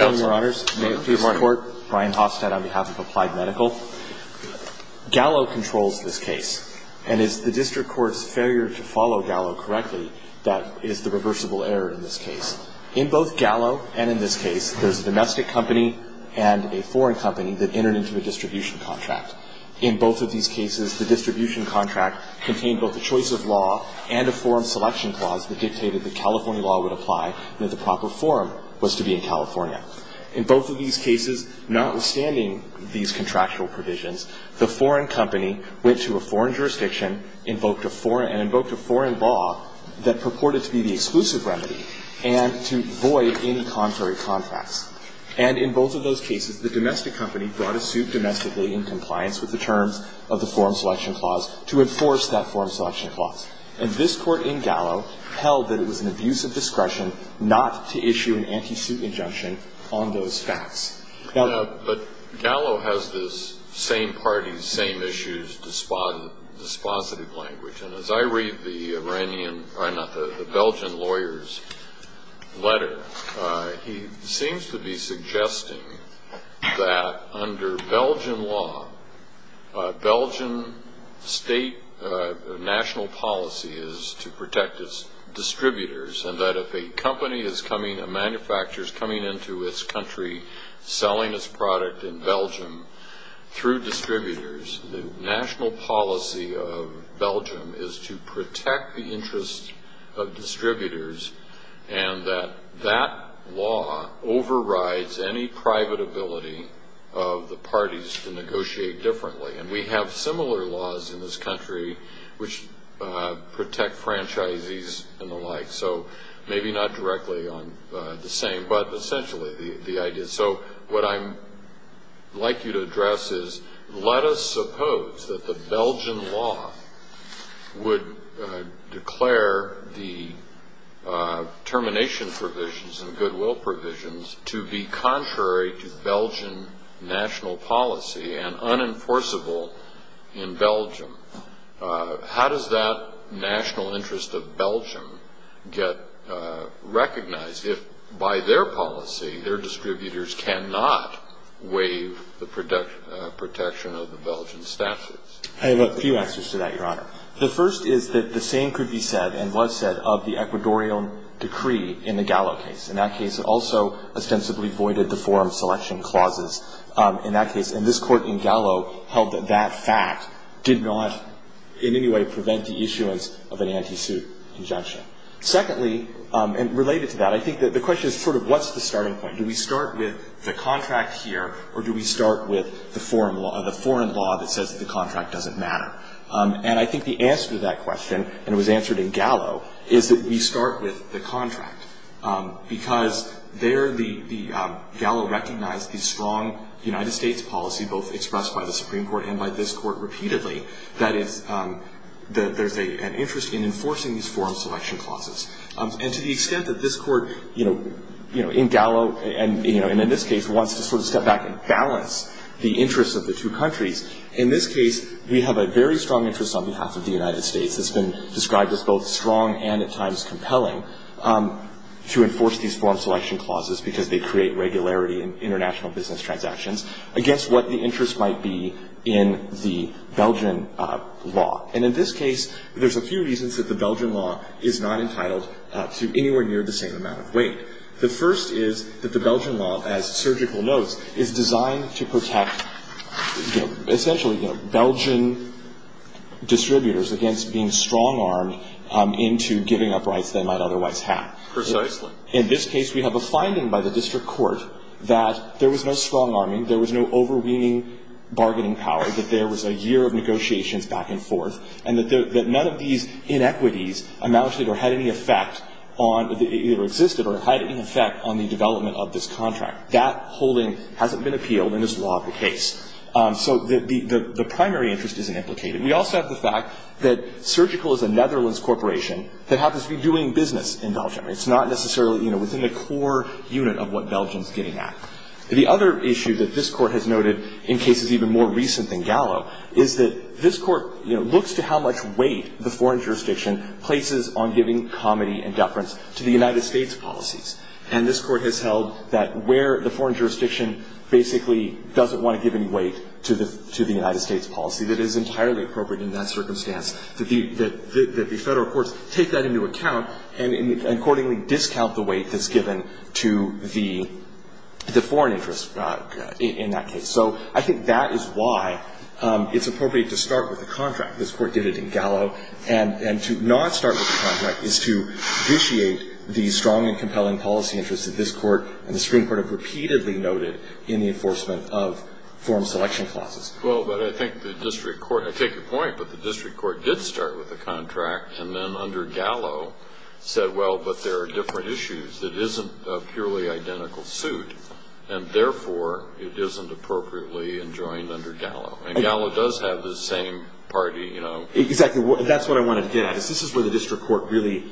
May it please the Court, Brian Hofstad on behalf of Applied Medical. Gallo controls this case, and it's the District Court's failure to follow Gallo correctly that is the reversible error in this case. In both Gallo and in this case, there's a domestic company and a foreign company that entered into a distribution contract. In both of these cases, the distribution contract contained both a choice of law and a forum selection clause that dictated that California law would apply and that the proper forum was to be in California. In both of these cases, notwithstanding these contractual provisions, the foreign company went to a foreign jurisdiction and invoked a foreign law that purported to be the exclusive remedy and to void any contrary contracts. And in both of those cases, the domestic company brought a suit domestically in compliance with the terms of the forum selection clause to enforce that forum selection clause. And this court in Gallo held that it was an abuse of discretion not to issue an anti-suit injunction on those facts. But Gallo has this same party, same issues, dispositive language. And as I read the Iranian or not, the Belgian lawyer's letter, he seems to be suggesting that under Belgian law, Belgian state national policy is to protect its distributors and that if a company is coming, a manufacturer is coming into its country, selling its product in Belgium through distributors, the national policy of Belgium is to protect the interests of distributors and that that law overrides any private ability of the parties to negotiate differently. And we have similar laws in this country which protect franchises and the like. So maybe not directly on the same, but essentially the idea. So what I'd like you to address is, let us suppose that the Belgian law would declare the termination provisions and goodwill provisions to be contrary to Belgian national policy and unenforceable in Belgium. How does that national interest of Belgium get recognized if by their policy, their distributors cannot waive the protection of the Belgian statutes? I have a few answers to that, Your Honor. The first is that the same could be said and was said of the Ecuadorian decree in the Gallo case. In that case, it also ostensibly voided the forum selection clauses. In that case, and this Court in Gallo held that that fact did not in any way prevent the issuance of an anti-suit injunction. Secondly, and related to that, I think that the question is sort of what's the starting point? Do we start with the contract here or do we start with the foreign law that says the contract doesn't matter? And I think the answer to that question, and it was answered in Gallo, is that we start with the contract. Because there the Gallo recognized the strong United States policy, both expressed by the Supreme Court and by this Court repeatedly, that there's an interest in enforcing these forum selection clauses. And to the extent that this Court, you know, in Gallo and, you know, in this case wants to sort of step back and balance the interests of the two countries, in this case we have a very strong interest on behalf of the United States. It's been described as both strong and at times compelling to enforce these forum selection clauses because they create regularity in international business transactions against what the interest might be in the Belgian law. And in this case, there's a few reasons that the Belgian law is not entitled to anywhere near the same amount of weight. The first is that the Belgian law, as Surgical notes, is designed to protect, you know, essentially, you know, Belgian distributors against being strong-armed into giving up rights they might otherwise have. Precisely. In this case, we have a finding by the district court that there was no strong-arming, there was no overweening bargaining power, that there was a year of negotiations back and forth, and that none of these inequities amounted or had any effect on the — either existed or had any effect on the development of this contract. That holding hasn't been appealed and is law of the case. So the primary interest isn't implicated. We also have the fact that Surgical is a Netherlands corporation that happens to be doing business in Belgium. It's not necessarily, you know, within the core unit of what Belgium's getting at. The other issue that this Court has noted in cases even more recent than Gallo is that this Court, you know, looks to how much weight the foreign jurisdiction places on giving comity and deference to the United States policies. And this Court has held that where the foreign jurisdiction basically doesn't want to give any weight to the United States policy, that it is entirely appropriate in that circumstance that the Federal courts take that into account and accordingly discount the weight that's given to the foreign interest in that case. So I think that is why it's appropriate to start with the contract. This Court did it in Gallo. And to not start with the contract is to vitiate the strong and compelling policy interests that this Court and the Supreme Court have repeatedly noted in the enforcement of form selection clauses. Well, but I think the district court —— said, well, but there are different issues. It isn't a purely identical suit, and therefore it isn't appropriately enjoined under Gallo. And Gallo does have the same party, you know — Exactly. That's what I wanted to get at, is this is where the district court really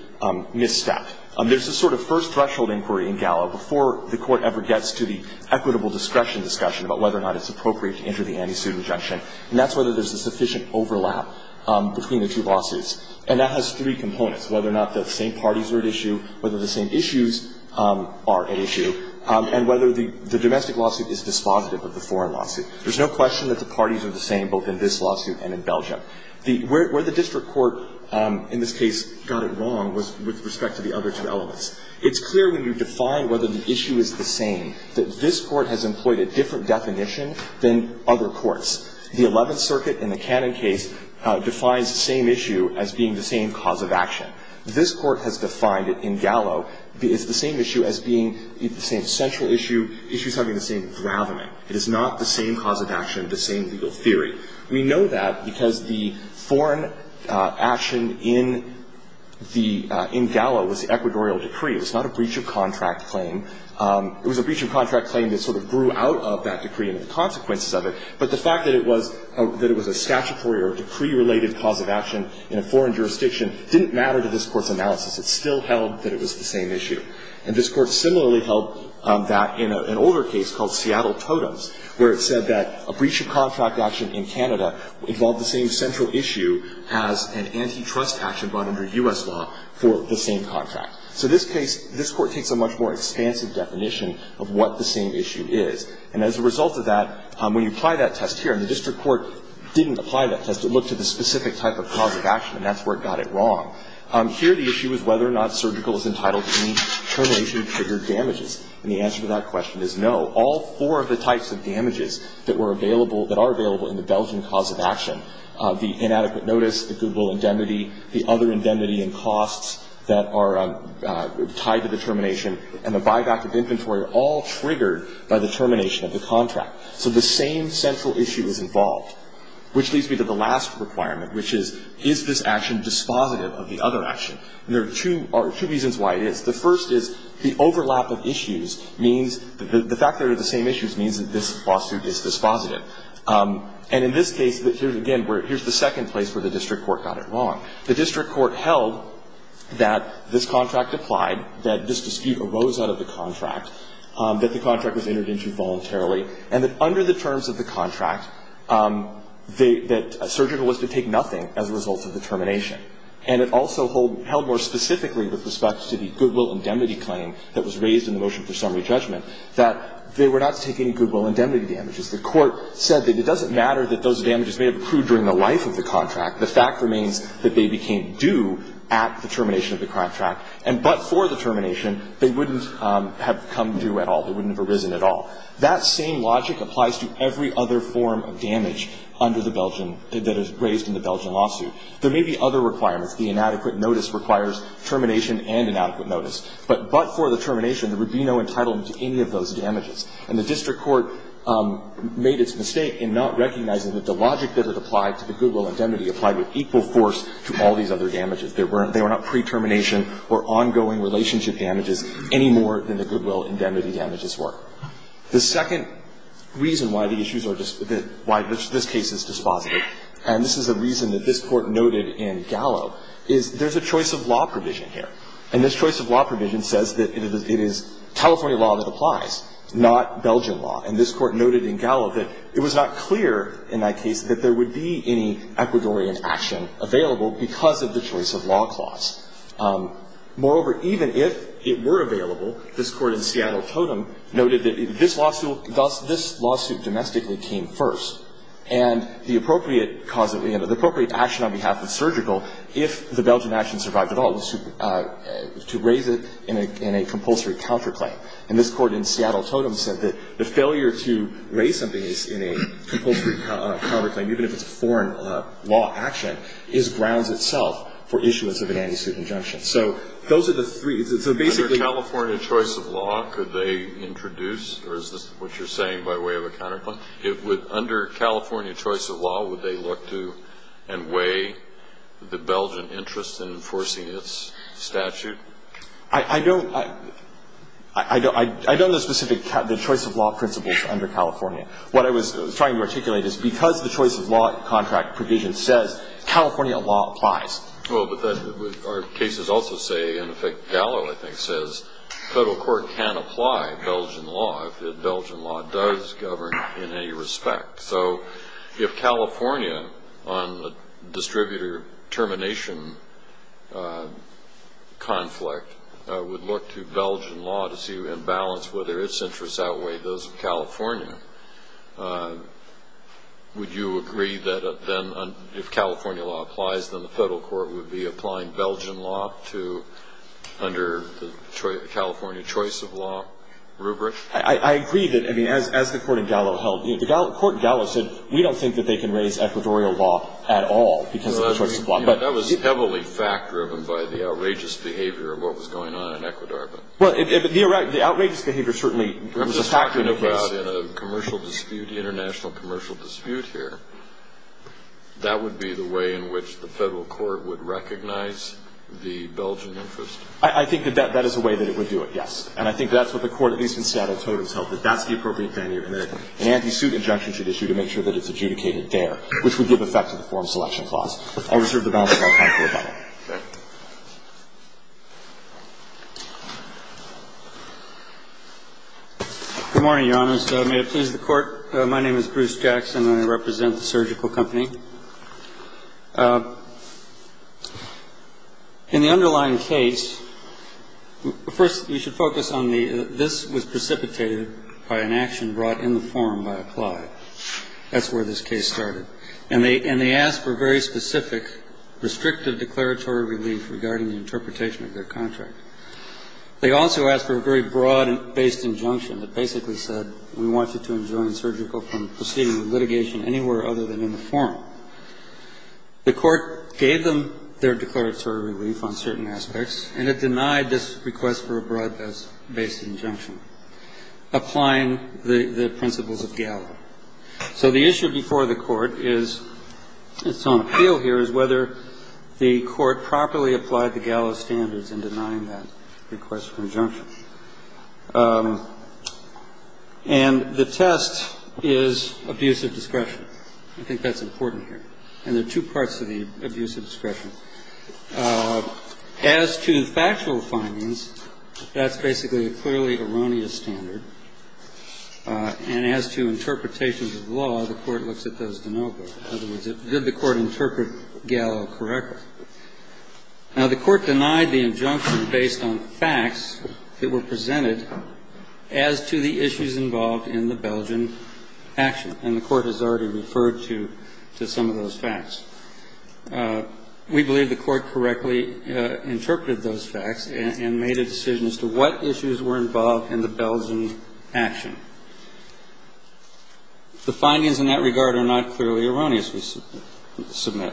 misstepped. There's a sort of first threshold inquiry in Gallo before the Court ever gets to the equitable discretion discussion about whether or not it's appropriate to enter the anti-suit injunction. And that's whether there's a sufficient overlap between the two lawsuits. And that has three components, whether or not the same parties are at issue, whether the same issues are at issue, and whether the domestic lawsuit is dispositive of the foreign lawsuit. There's no question that the parties are the same both in this lawsuit and in Belgium. Where the district court in this case got it wrong was with respect to the other two elements. It's clear when you define whether the issue is the same that this Court has employed a different definition than other courts. The Eleventh Circuit in the Cannon case defines the same issue as being the same cause of action. This Court has defined it in Gallo. It's the same issue as being the same central issue. The issue is having the same dravening. It is not the same cause of action, the same legal theory. We know that because the foreign action in the — in Gallo was the Ecuadorial decree. It was not a breach of contract claim. It was a breach of contract claim that sort of grew out of that decree and the consequences of it. But the fact that it was — that it was a statutory or decree-related cause of action in a foreign jurisdiction didn't matter to this Court's analysis. It still held that it was the same issue. And this Court similarly held that in an older case called Seattle Totems, where it said that a breach of contract action in Canada involved the same central issue as an antitrust action brought under U.S. law for the same contract. So this case — this Court takes a much more expansive definition of what the same issue is. And as a result of that, when you apply that test here — and the district court didn't apply that test. It looked at the specific type of cause of action, and that's where it got it wrong. Here the issue is whether or not surgical is entitled to any termination-triggered damages. And the answer to that question is no. All four of the types of damages that were available — that are available in the Belgian cause of action, the inadequate notice, the goodwill indemnity, the other indemnity and costs that are tied to the termination, and the buyback of inventory are all triggered by the termination of the contract. So the same central issue is involved. Which leads me to the last requirement, which is, is this action dispositive of the other action? And there are two reasons why it is. The first is the overlap of issues means — the fact that they're the same issues means that this lawsuit is dispositive. And in this case, again, here's the second place where the district court got it wrong. The district court held that this contract applied, that this dispute arose out of the contract, that the contract was entered into voluntarily, and that under the terms of the contract, that surgical was to take nothing as a result of the termination. And it also held more specifically with respect to the goodwill indemnity claim that was raised in the motion for summary judgment, that they were not to take any goodwill indemnity damages. The court said that it doesn't matter that those damages may have accrued during the life of the contract. The fact remains that they became due at the termination of the contract. And but for the termination, they wouldn't have come due at all. They wouldn't have arisen at all. That same logic applies to every other form of damage under the Belgian — that is raised in the Belgian lawsuit. There may be other requirements. The inadequate notice requires termination and inadequate notice. But but for the termination, there would be no entitlement to any of those damages. And the district court made its mistake in not recognizing that the logic that it applied to the goodwill indemnity applied with equal force to all these other damages. They were not pre-termination or ongoing relationship damages any more than the goodwill indemnity damages were. The second reason why the issues are just — why this case is dispositive, and this is a reason that this Court noted in Gallo, is there's a choice of law provision here. And this choice of law provision says that it is — it is California law that applies, not Belgian law. And this Court noted in Gallo that it was not clear in that case that there would be any Ecuadorian action available because of the choice of law clause. Moreover, even if it were available, this Court in Seattle-Totem noted that this lawsuit — this lawsuit domestically came first. And the appropriate cause of — the appropriate action on behalf of surgical, if the Belgian action survived at all, was to raise it in a compulsory counterclaim. And this Court in Seattle-Totem said that the failure to raise something in a compulsory counterclaim, even if it's a foreign law action, is grounds itself for issuance of an anti-suit injunction. So those are the three. So basically — Kennedy. Under California choice of law, could they introduce — or is this what you're saying by way of a counterclaim? Under California choice of law, would they look to and weigh the Belgian interest in enforcing its statute? I don't — I don't know the specific — the choice of law principles under California. What I was trying to articulate is because the choice of law contract provision says California law applies. Well, but that would — our cases also say — in effect, Gallo, I think, says federal court can apply Belgian law if the Belgian law does govern in any respect. So if California on the distributor termination conflict would look to Belgian law to see and balance whether its interests outweigh those of California, would you agree that then if California law applies, then the federal court would be applying Belgian law to — under the California choice of law rubric? I agree that — I mean, as the Court in Gallo held. The Court in Gallo said, we don't think that they can raise Ecuadorian law at all because of the choice of law. That was heavily fact-driven by the outrageous behavior of what was going on in Ecuador. Well, the outrageous behavior certainly was a factor in the case. I'm just talking about in a commercial dispute, international commercial dispute here. That would be the way in which the federal court would recognize the Belgian interest. I think that that is a way that it would do it, yes. And I think that's what the court at least in Seattle Totems held, that that's the appropriate venue and that an anti-suit injunction should issue to make sure that it's adjudicated there, which would give effect to the form selection clause. I'll reserve the balance of my time for rebuttal. Okay. Good morning, Your Honors. May it please the Court. My name is Bruce Jackson, and I represent the Surgical Company. In the underlying case, first you should focus on the this was precipitated by an action brought in the forum by a ply. That's where this case started. And they asked for very specific restrictive declaratory relief regarding the interpretation of their contract. They also asked for a very broad-based injunction that basically said we want you to enjoin Surgical from proceeding with litigation anywhere other than in the forum. The court gave them their declaratory relief on certain aspects, and it denied this request for a broad-based injunction, applying the principles of GALA. So the issue before the court is, it's on appeal here, is whether the court properly applied the GALA standards in denying that request for injunction. And the test is abuse of discretion. I think that's important here. And there are two parts to the abuse of discretion. As to factual findings, that's basically a clearly erroneous standard. And as to interpretations of law, the court looks at those to no avail. In other words, did the court interpret GALA correctly? Now, the court denied the injunction based on facts that were presented as to the issues involved in the Belgian action. And the court has already referred to some of those facts. We believe the court correctly interpreted those facts and made a decision as to what issues were involved in the Belgian action. The findings in that regard are not clearly erroneous, we submit.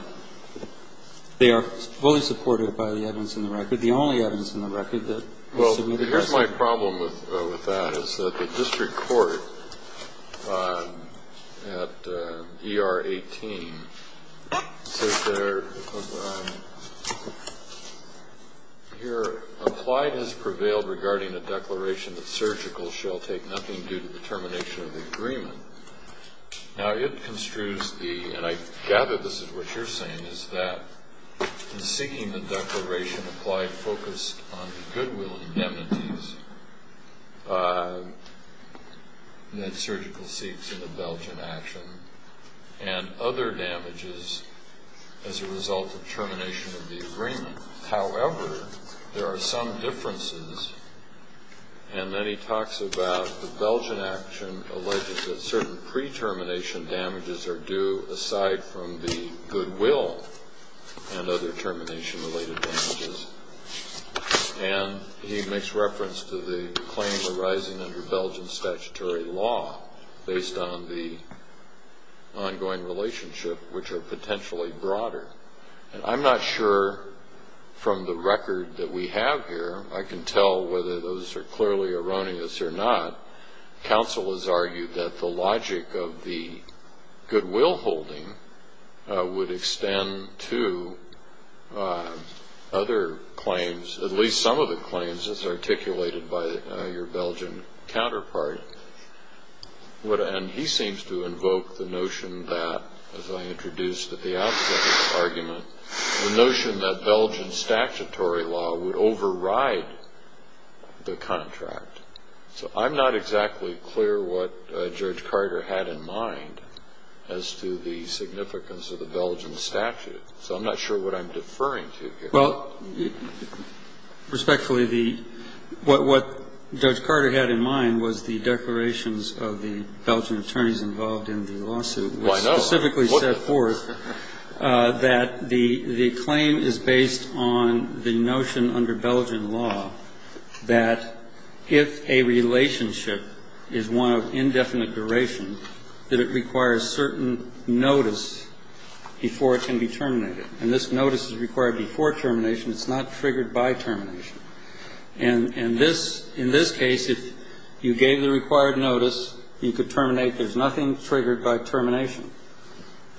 They are fully supported by the evidence in the record, the only evidence in the record that was submitted as such. My problem with that is that the district court at ER 18 says there, here, applied as prevailed regarding the declaration that surgical shall take nothing due to the termination of the agreement. Now, it construes the, and I gather this is what you're saying, is that in seeking the declaration applied focused on the goodwill indemnities that surgical seeks in the Belgian action and other damages as a result of termination of the agreement. However, there are some differences, and then he talks about the Belgian action alleges that certain pre-termination damages are due aside from the goodwill and other termination-related damages. And he makes reference to the claims arising under Belgian statutory law based on the ongoing relationship, which are potentially broader. And I'm not sure from the record that we have here, I can tell whether those are clearly erroneous or not, counsel has argued that the logic of the goodwill holding would extend to other claims, at least some of the claims as articulated by your Belgian counterpart. And he seems to invoke the notion that, as I introduced at the outset of the argument, the notion that Belgian statutory law would override the contract. So I'm not exactly clear what Judge Carter had in mind as to the significance of the Belgian statute. So I'm not sure what I'm deferring to here. Well, respectfully, what Judge Carter had in mind was the declarations of the Belgian attorneys involved in the lawsuit, which specifically set forth that the claim is based on the notion under Belgian law that if a relationship is one of indefinite duration, that it requires certain notice before it can be terminated. And this notice is required before termination. It's not triggered by termination. And in this case, if you gave the required notice, you could terminate. There's nothing triggered by termination.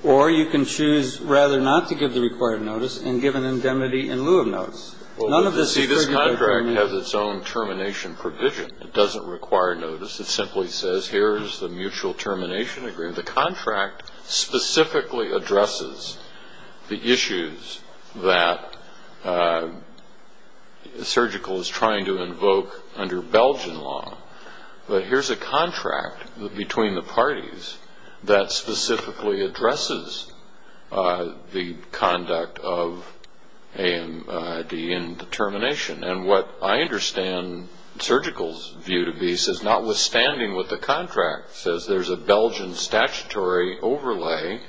Or you can choose rather not to give the required notice and give an indemnity in lieu of notice. None of this is triggered by termination. Well, you see, this contract has its own termination provision. It doesn't require notice. It simply says, here is the mutual termination agreement. The contract specifically addresses the issues that Surgical is trying to invoke under Belgian law. But here's a contract between the parties that specifically addresses the conduct of AMD in termination. And what I understand Surgical's view to be says, notwithstanding what the contract says, there's a Belgian statutory overlay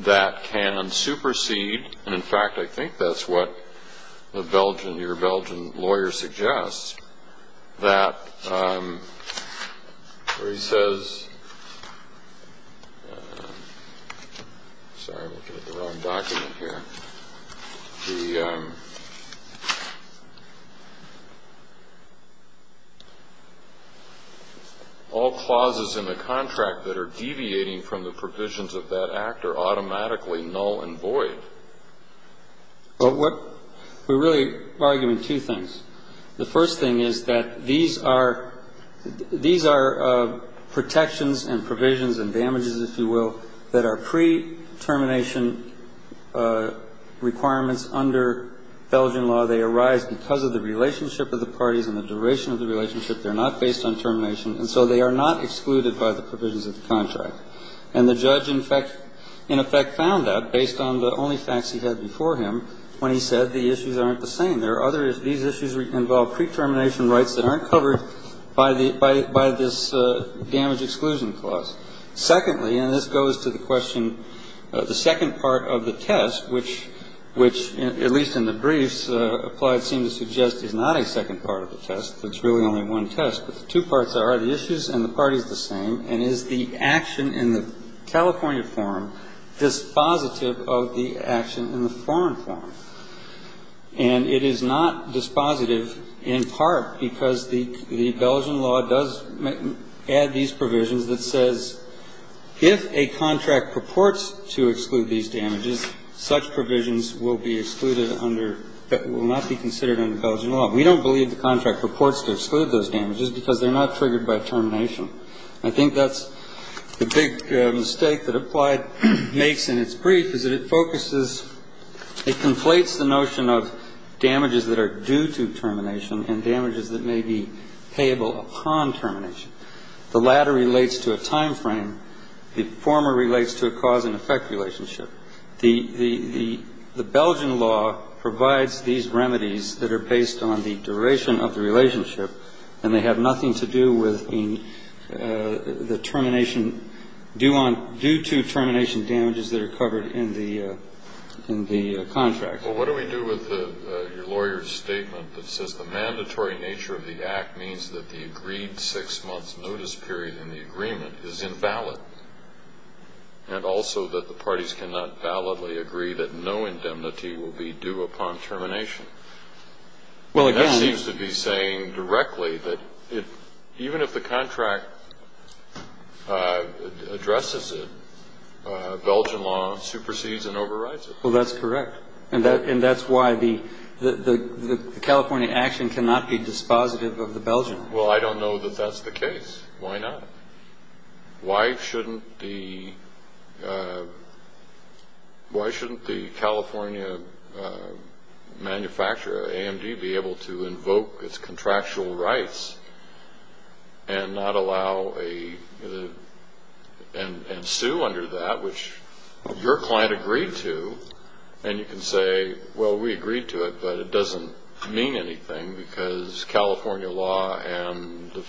that can supersede. And, in fact, I think that's what your Belgian lawyer suggests. All clauses in the contract that are deviating from the provisions of that act are automatically null and void. Well, we're really arguing two things. The first thing is that these are protections and provisions and damages, if you will, that are pre-termination requirements under Belgian law. They arise because of the relationship of the parties and the duration of the relationship. They're not based on termination. And so they are not excluded by the provisions of the contract. And the judge, in effect, found that based on the only facts he had before him when he said the issues aren't the same. There are other issues. These issues involve pre-termination rights that aren't covered by this damage exclusion clause. Secondly, and this goes to the question, the second part of the test, which at least in the briefs applied seem to suggest is not a second part of the test. It's really only one test. But the two parts are the issues and the parties are the same. And is the action in the California form dispositive of the action in the foreign form? And it is not dispositive in part because the Belgian law does add these provisions that says if a contract purports to exclude these damages, such provisions will be excluded under that will not be considered under Belgian law. We don't believe the contract purports to exclude those damages because they're not triggered by termination. I think that's the big mistake that applied makes in its brief, is that it focuses ‑‑ it conflates the notion of damages that are due to termination and damages that may be payable upon termination. The latter relates to a time frame. The former relates to a cause and effect relationship. The Belgian law provides these remedies that are based on the duration of the relationship and they have nothing to do with the termination due to termination damages that are covered in the contract. Well, what do we do with your lawyer's statement that says the mandatory nature of the act means that the agreed six-month notice period in the agreement is invalid and also that the parties cannot validly agree that no indemnity will be due upon termination? That seems to be saying directly that even if the contract addresses it, Belgian law supersedes and overrides it. Well, that's correct. And that's why the California action cannot be dispositive of the Belgian law. Well, I don't know that that's the case. Why not? Why shouldn't the California manufacturer, AMD, be able to invoke its contractual rights and not allow and sue under that, which your client agreed to, and you can say, well, we agreed to it, but it doesn't mean anything because California law and the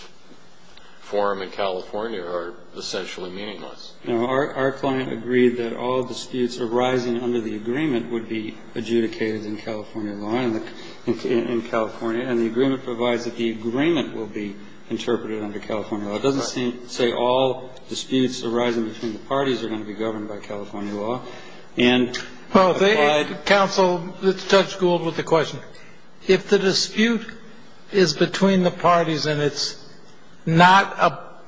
forum in California are essentially meaningless. No. Our client agreed that all disputes arising under the agreement would be adjudicated in California law and the agreement provides that the agreement will be interpreted under California law. It doesn't say all disputes arising between the parties are going to be governed by California law. Counsel, Judge Gould with the question. If the dispute is between the parties and it's not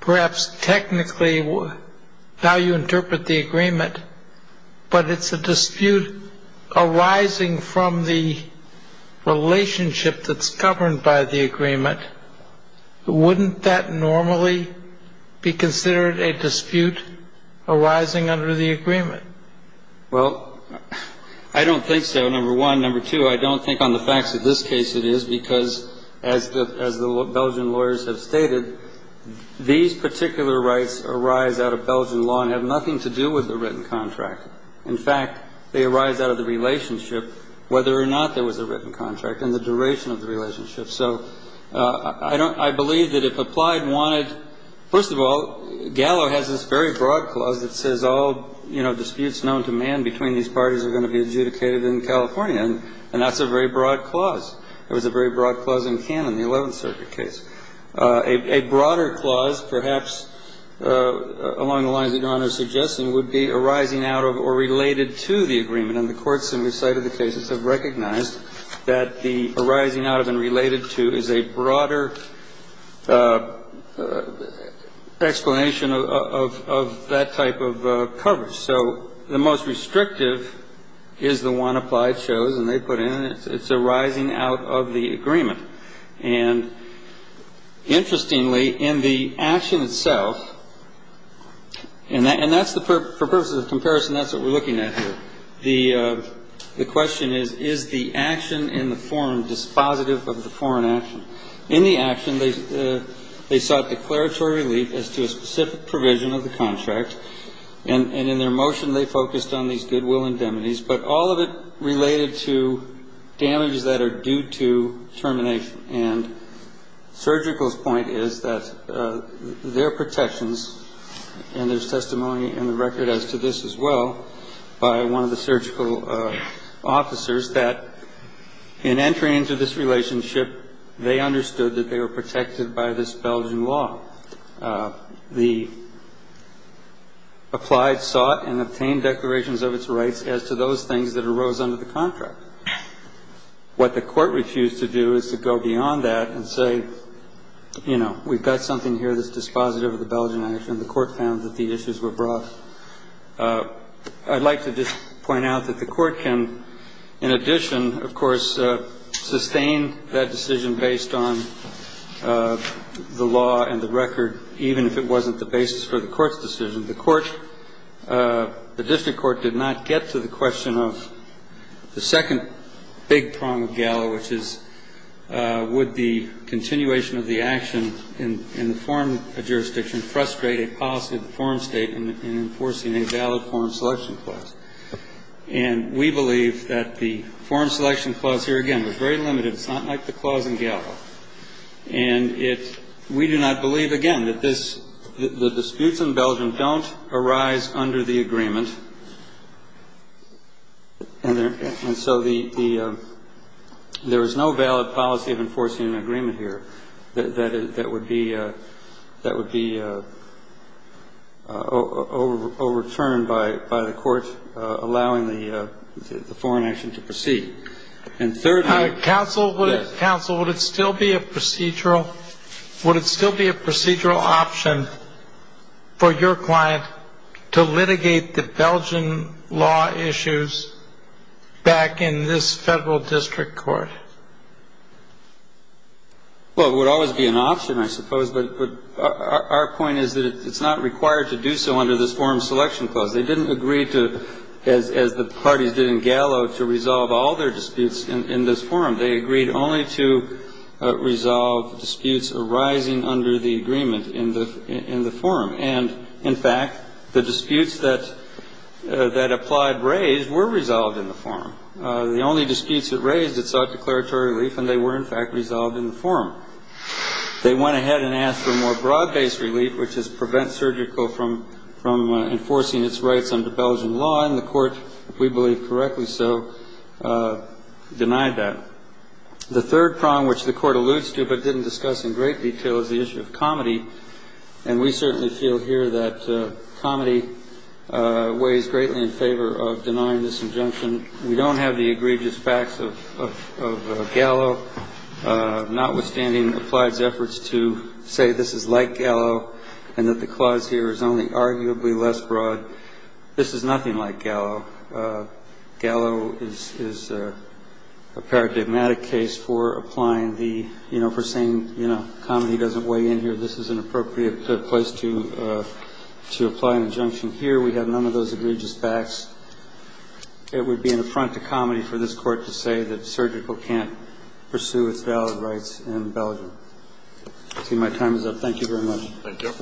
perhaps technically how you interpret the agreement, but it's a dispute arising from the relationship that's governed by the agreement, wouldn't that normally be considered a dispute arising under the agreement? Well, I don't think so, number one. Number two, I don't think on the facts of this case it is because as the Belgian lawyers have stated, these particular rights arise out of Belgian law and have nothing to do with the written contract. In fact, they arise out of the relationship whether or not there was a written contract and the duration of the relationship. So I don't – I believe that if applied, wanted – first of all, Gallo has this very broad clause that says all, you know, disputes known to man between these parties are going to be adjudicated in California, and that's a very broad clause. It was a very broad clause in canon, the Eleventh Circuit case. A broader clause perhaps along the lines that Your Honor is suggesting would be arising out of or related to the agreement. And the courts in the sight of the cases have recognized that the arising out of and related to is a broader explanation of that type of coverage. So the most restrictive is the one applied shows, and they put in it's arising out of the agreement. And interestingly, in the action itself – and that's the – for purposes of comparison, that's what we're looking at here. The question is, is the action in the forum dispositive of the foreign action? In the action, they sought declaratory relief as to a specific provision of the contract. And in their motion, they focused on these goodwill indemnities, but all of it related to damages that are due to termination. And Surgical's point is that their protections – and there's testimony in the record as to this as well by one of the surgical officers – that in entering into this relationship, they understood that they were protected by this Belgian law. The applied sought and obtained declarations of its rights as to those things that arose under the contract. What the Court refused to do is to go beyond that and say, you know, we've got something here that's dispositive of the Belgian action. And the Court found that the issues were broad. I'd like to just point out that the Court can, in addition, of course, sustain that decision based on the law and the record, even if it wasn't the basis for the Court's decision. The Court – the district court did not get to the question of the second big prong of Gallo, which is, would the continuation of the action in the forum jurisdiction frustrate a policy of the foreign state in enforcing a valid forum selection clause? And we believe that the forum selection clause here, again, was very limited. It's not like the clause in Gallo. And it – we do not believe, again, that this – the disputes in Belgium don't arise under the agreement. And there – and so the – there is no valid policy of enforcing an agreement here that would be – that would be overturned by the Court allowing the foreign action to proceed. And thirdly – Counsel, would it still be a procedural – would it still be a procedural option for your client to litigate the Belgian law issues back in this federal district court? Well, it would always be an option, I suppose. But our point is that it's not required to do so under this forum selection clause. They didn't agree to, as the parties did in Gallo, to resolve all their disputes in this forum. They agreed only to resolve disputes arising under the agreement in the forum. And, in fact, the disputes that – that applied raised were resolved in the forum. The only disputes it raised, it sought declaratory relief, and they were, in fact, resolved in the forum. They went ahead and asked for more broad-based relief, which is prevent surgical from – from enforcing its rights under Belgian law. And the Court, if we believe correctly so, denied that. The third prong, which the Court alludes to but didn't discuss in great detail, is the issue of comity. And we certainly feel here that comity weighs greatly in favor of denying this injunction. We don't have the egregious facts of Gallo, notwithstanding Applied's efforts to say this is like Gallo and that the clause here is only arguably less broad. This is nothing like Gallo. Gallo is a paradigmatic case for applying the – you know, for saying, you know, comity doesn't weigh in here. This is an appropriate place to – to apply an injunction here. We have none of those egregious facts. It would be an affront to comity for this Court to say that surgical can't pursue its valid rights in Belgium. I see my time is up. Thank you very much. Thank you.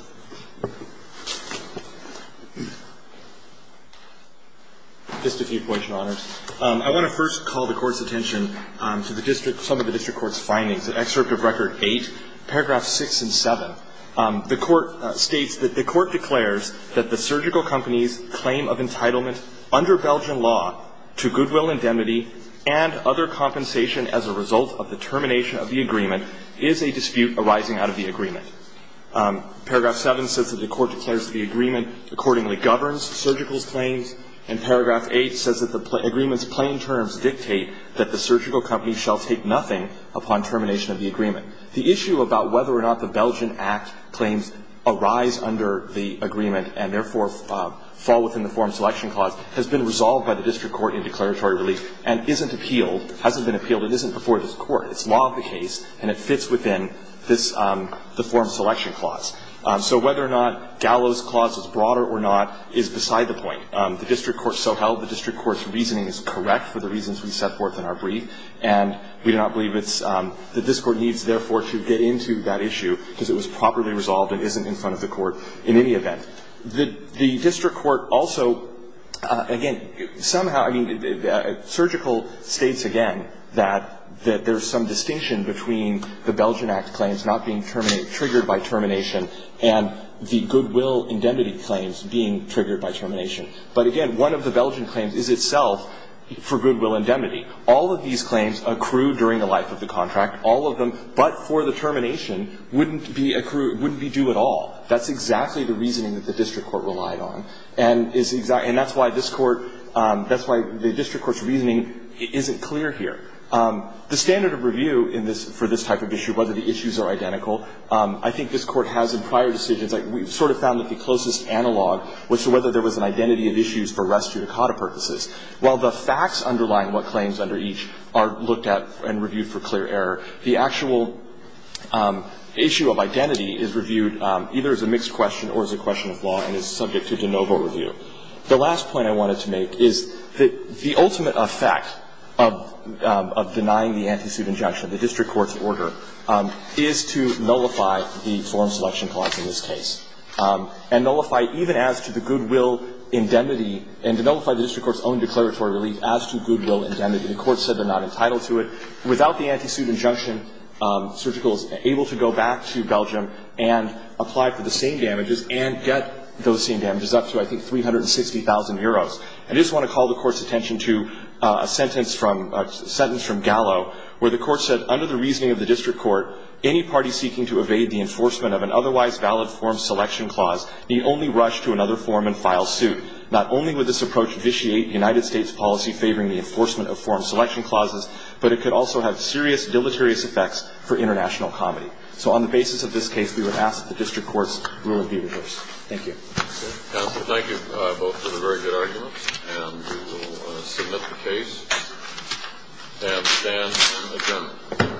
Just a few points, Your Honors. I want to first call the Court's attention to the district – some of the district Court's findings. Excerpt of Record 8, Paragraph 6 and 7. The Court states that the Court declares that the surgical company's claim of entitlement under Belgian law to goodwill indemnity and other compensation as a result of the termination of the agreement is a dispute arising out of the agreement. Paragraph 7 says that the Court declares the agreement accordingly governs surgical's claims. And Paragraph 8 says that the agreement's plain terms dictate that the surgical company shall take nothing upon termination of the agreement. The issue about whether or not the Belgian Act claims arise under the agreement and therefore fall within the Form Selection Clause has been resolved by the district court in declaratory relief and isn't appealed – hasn't been appealed. It isn't before this Court. It's law of the case and it fits within this – the Form Selection Clause. So whether or not Gallo's clause is broader or not is beside the point. And we do not believe it's – that this Court needs, therefore, to get into that issue because it was properly resolved and isn't in front of the Court in any event. The district court also – again, somehow – I mean, surgical states again that there's some distinction between the Belgian Act claims not being triggered by termination and the goodwill indemnity claims being triggered by termination. But again, one of the Belgian claims is itself for goodwill indemnity. All of these claims accrue during the life of the contract. All of them but for the termination wouldn't be accrued – wouldn't be due at all. That's exactly the reasoning that the district court relied on. And it's – and that's why this court – that's why the district court's reasoning isn't clear here. The standard of review in this – for this type of issue, whether the issues are identical, I think this court has in prior decisions. We sort of found that the closest analog was to whether there was an identity of issues for res judicata purposes. While the facts underlying what claims under each are looked at and reviewed for clear error, the actual issue of identity is reviewed either as a mixed question or as a question of law and is subject to de novo review. The last point I wanted to make is that the ultimate effect of denying the anti-suit injunction, the district court's order, is to nullify the foreign selection clause in this case and nullify even as to the goodwill indemnity and to nullify the district court's own declaratory relief as to goodwill indemnity. The court said they're not entitled to it. Without the anti-suit injunction, surgical is able to go back to Belgium and apply for the same damages and get those same damages up to, I think, 360,000 euros. I just want to call the court's attention to a sentence from – a sentence from the district court. The court said, Under the reasoning of the district court, any party seeking to evade the enforcement of an otherwise valid foreign selection clause need only rush to another form and file suit. Not only would this approach vitiate United States policy favoring the enforcement of foreign selection clauses, but it could also have serious deleterious effects for international comedy. So on the basis of this case, we would ask that the district court's rule be reversed. Thank you. Counsel, thank you both for the very good arguments. And we will submit the case and stand in adjournment. Thank you.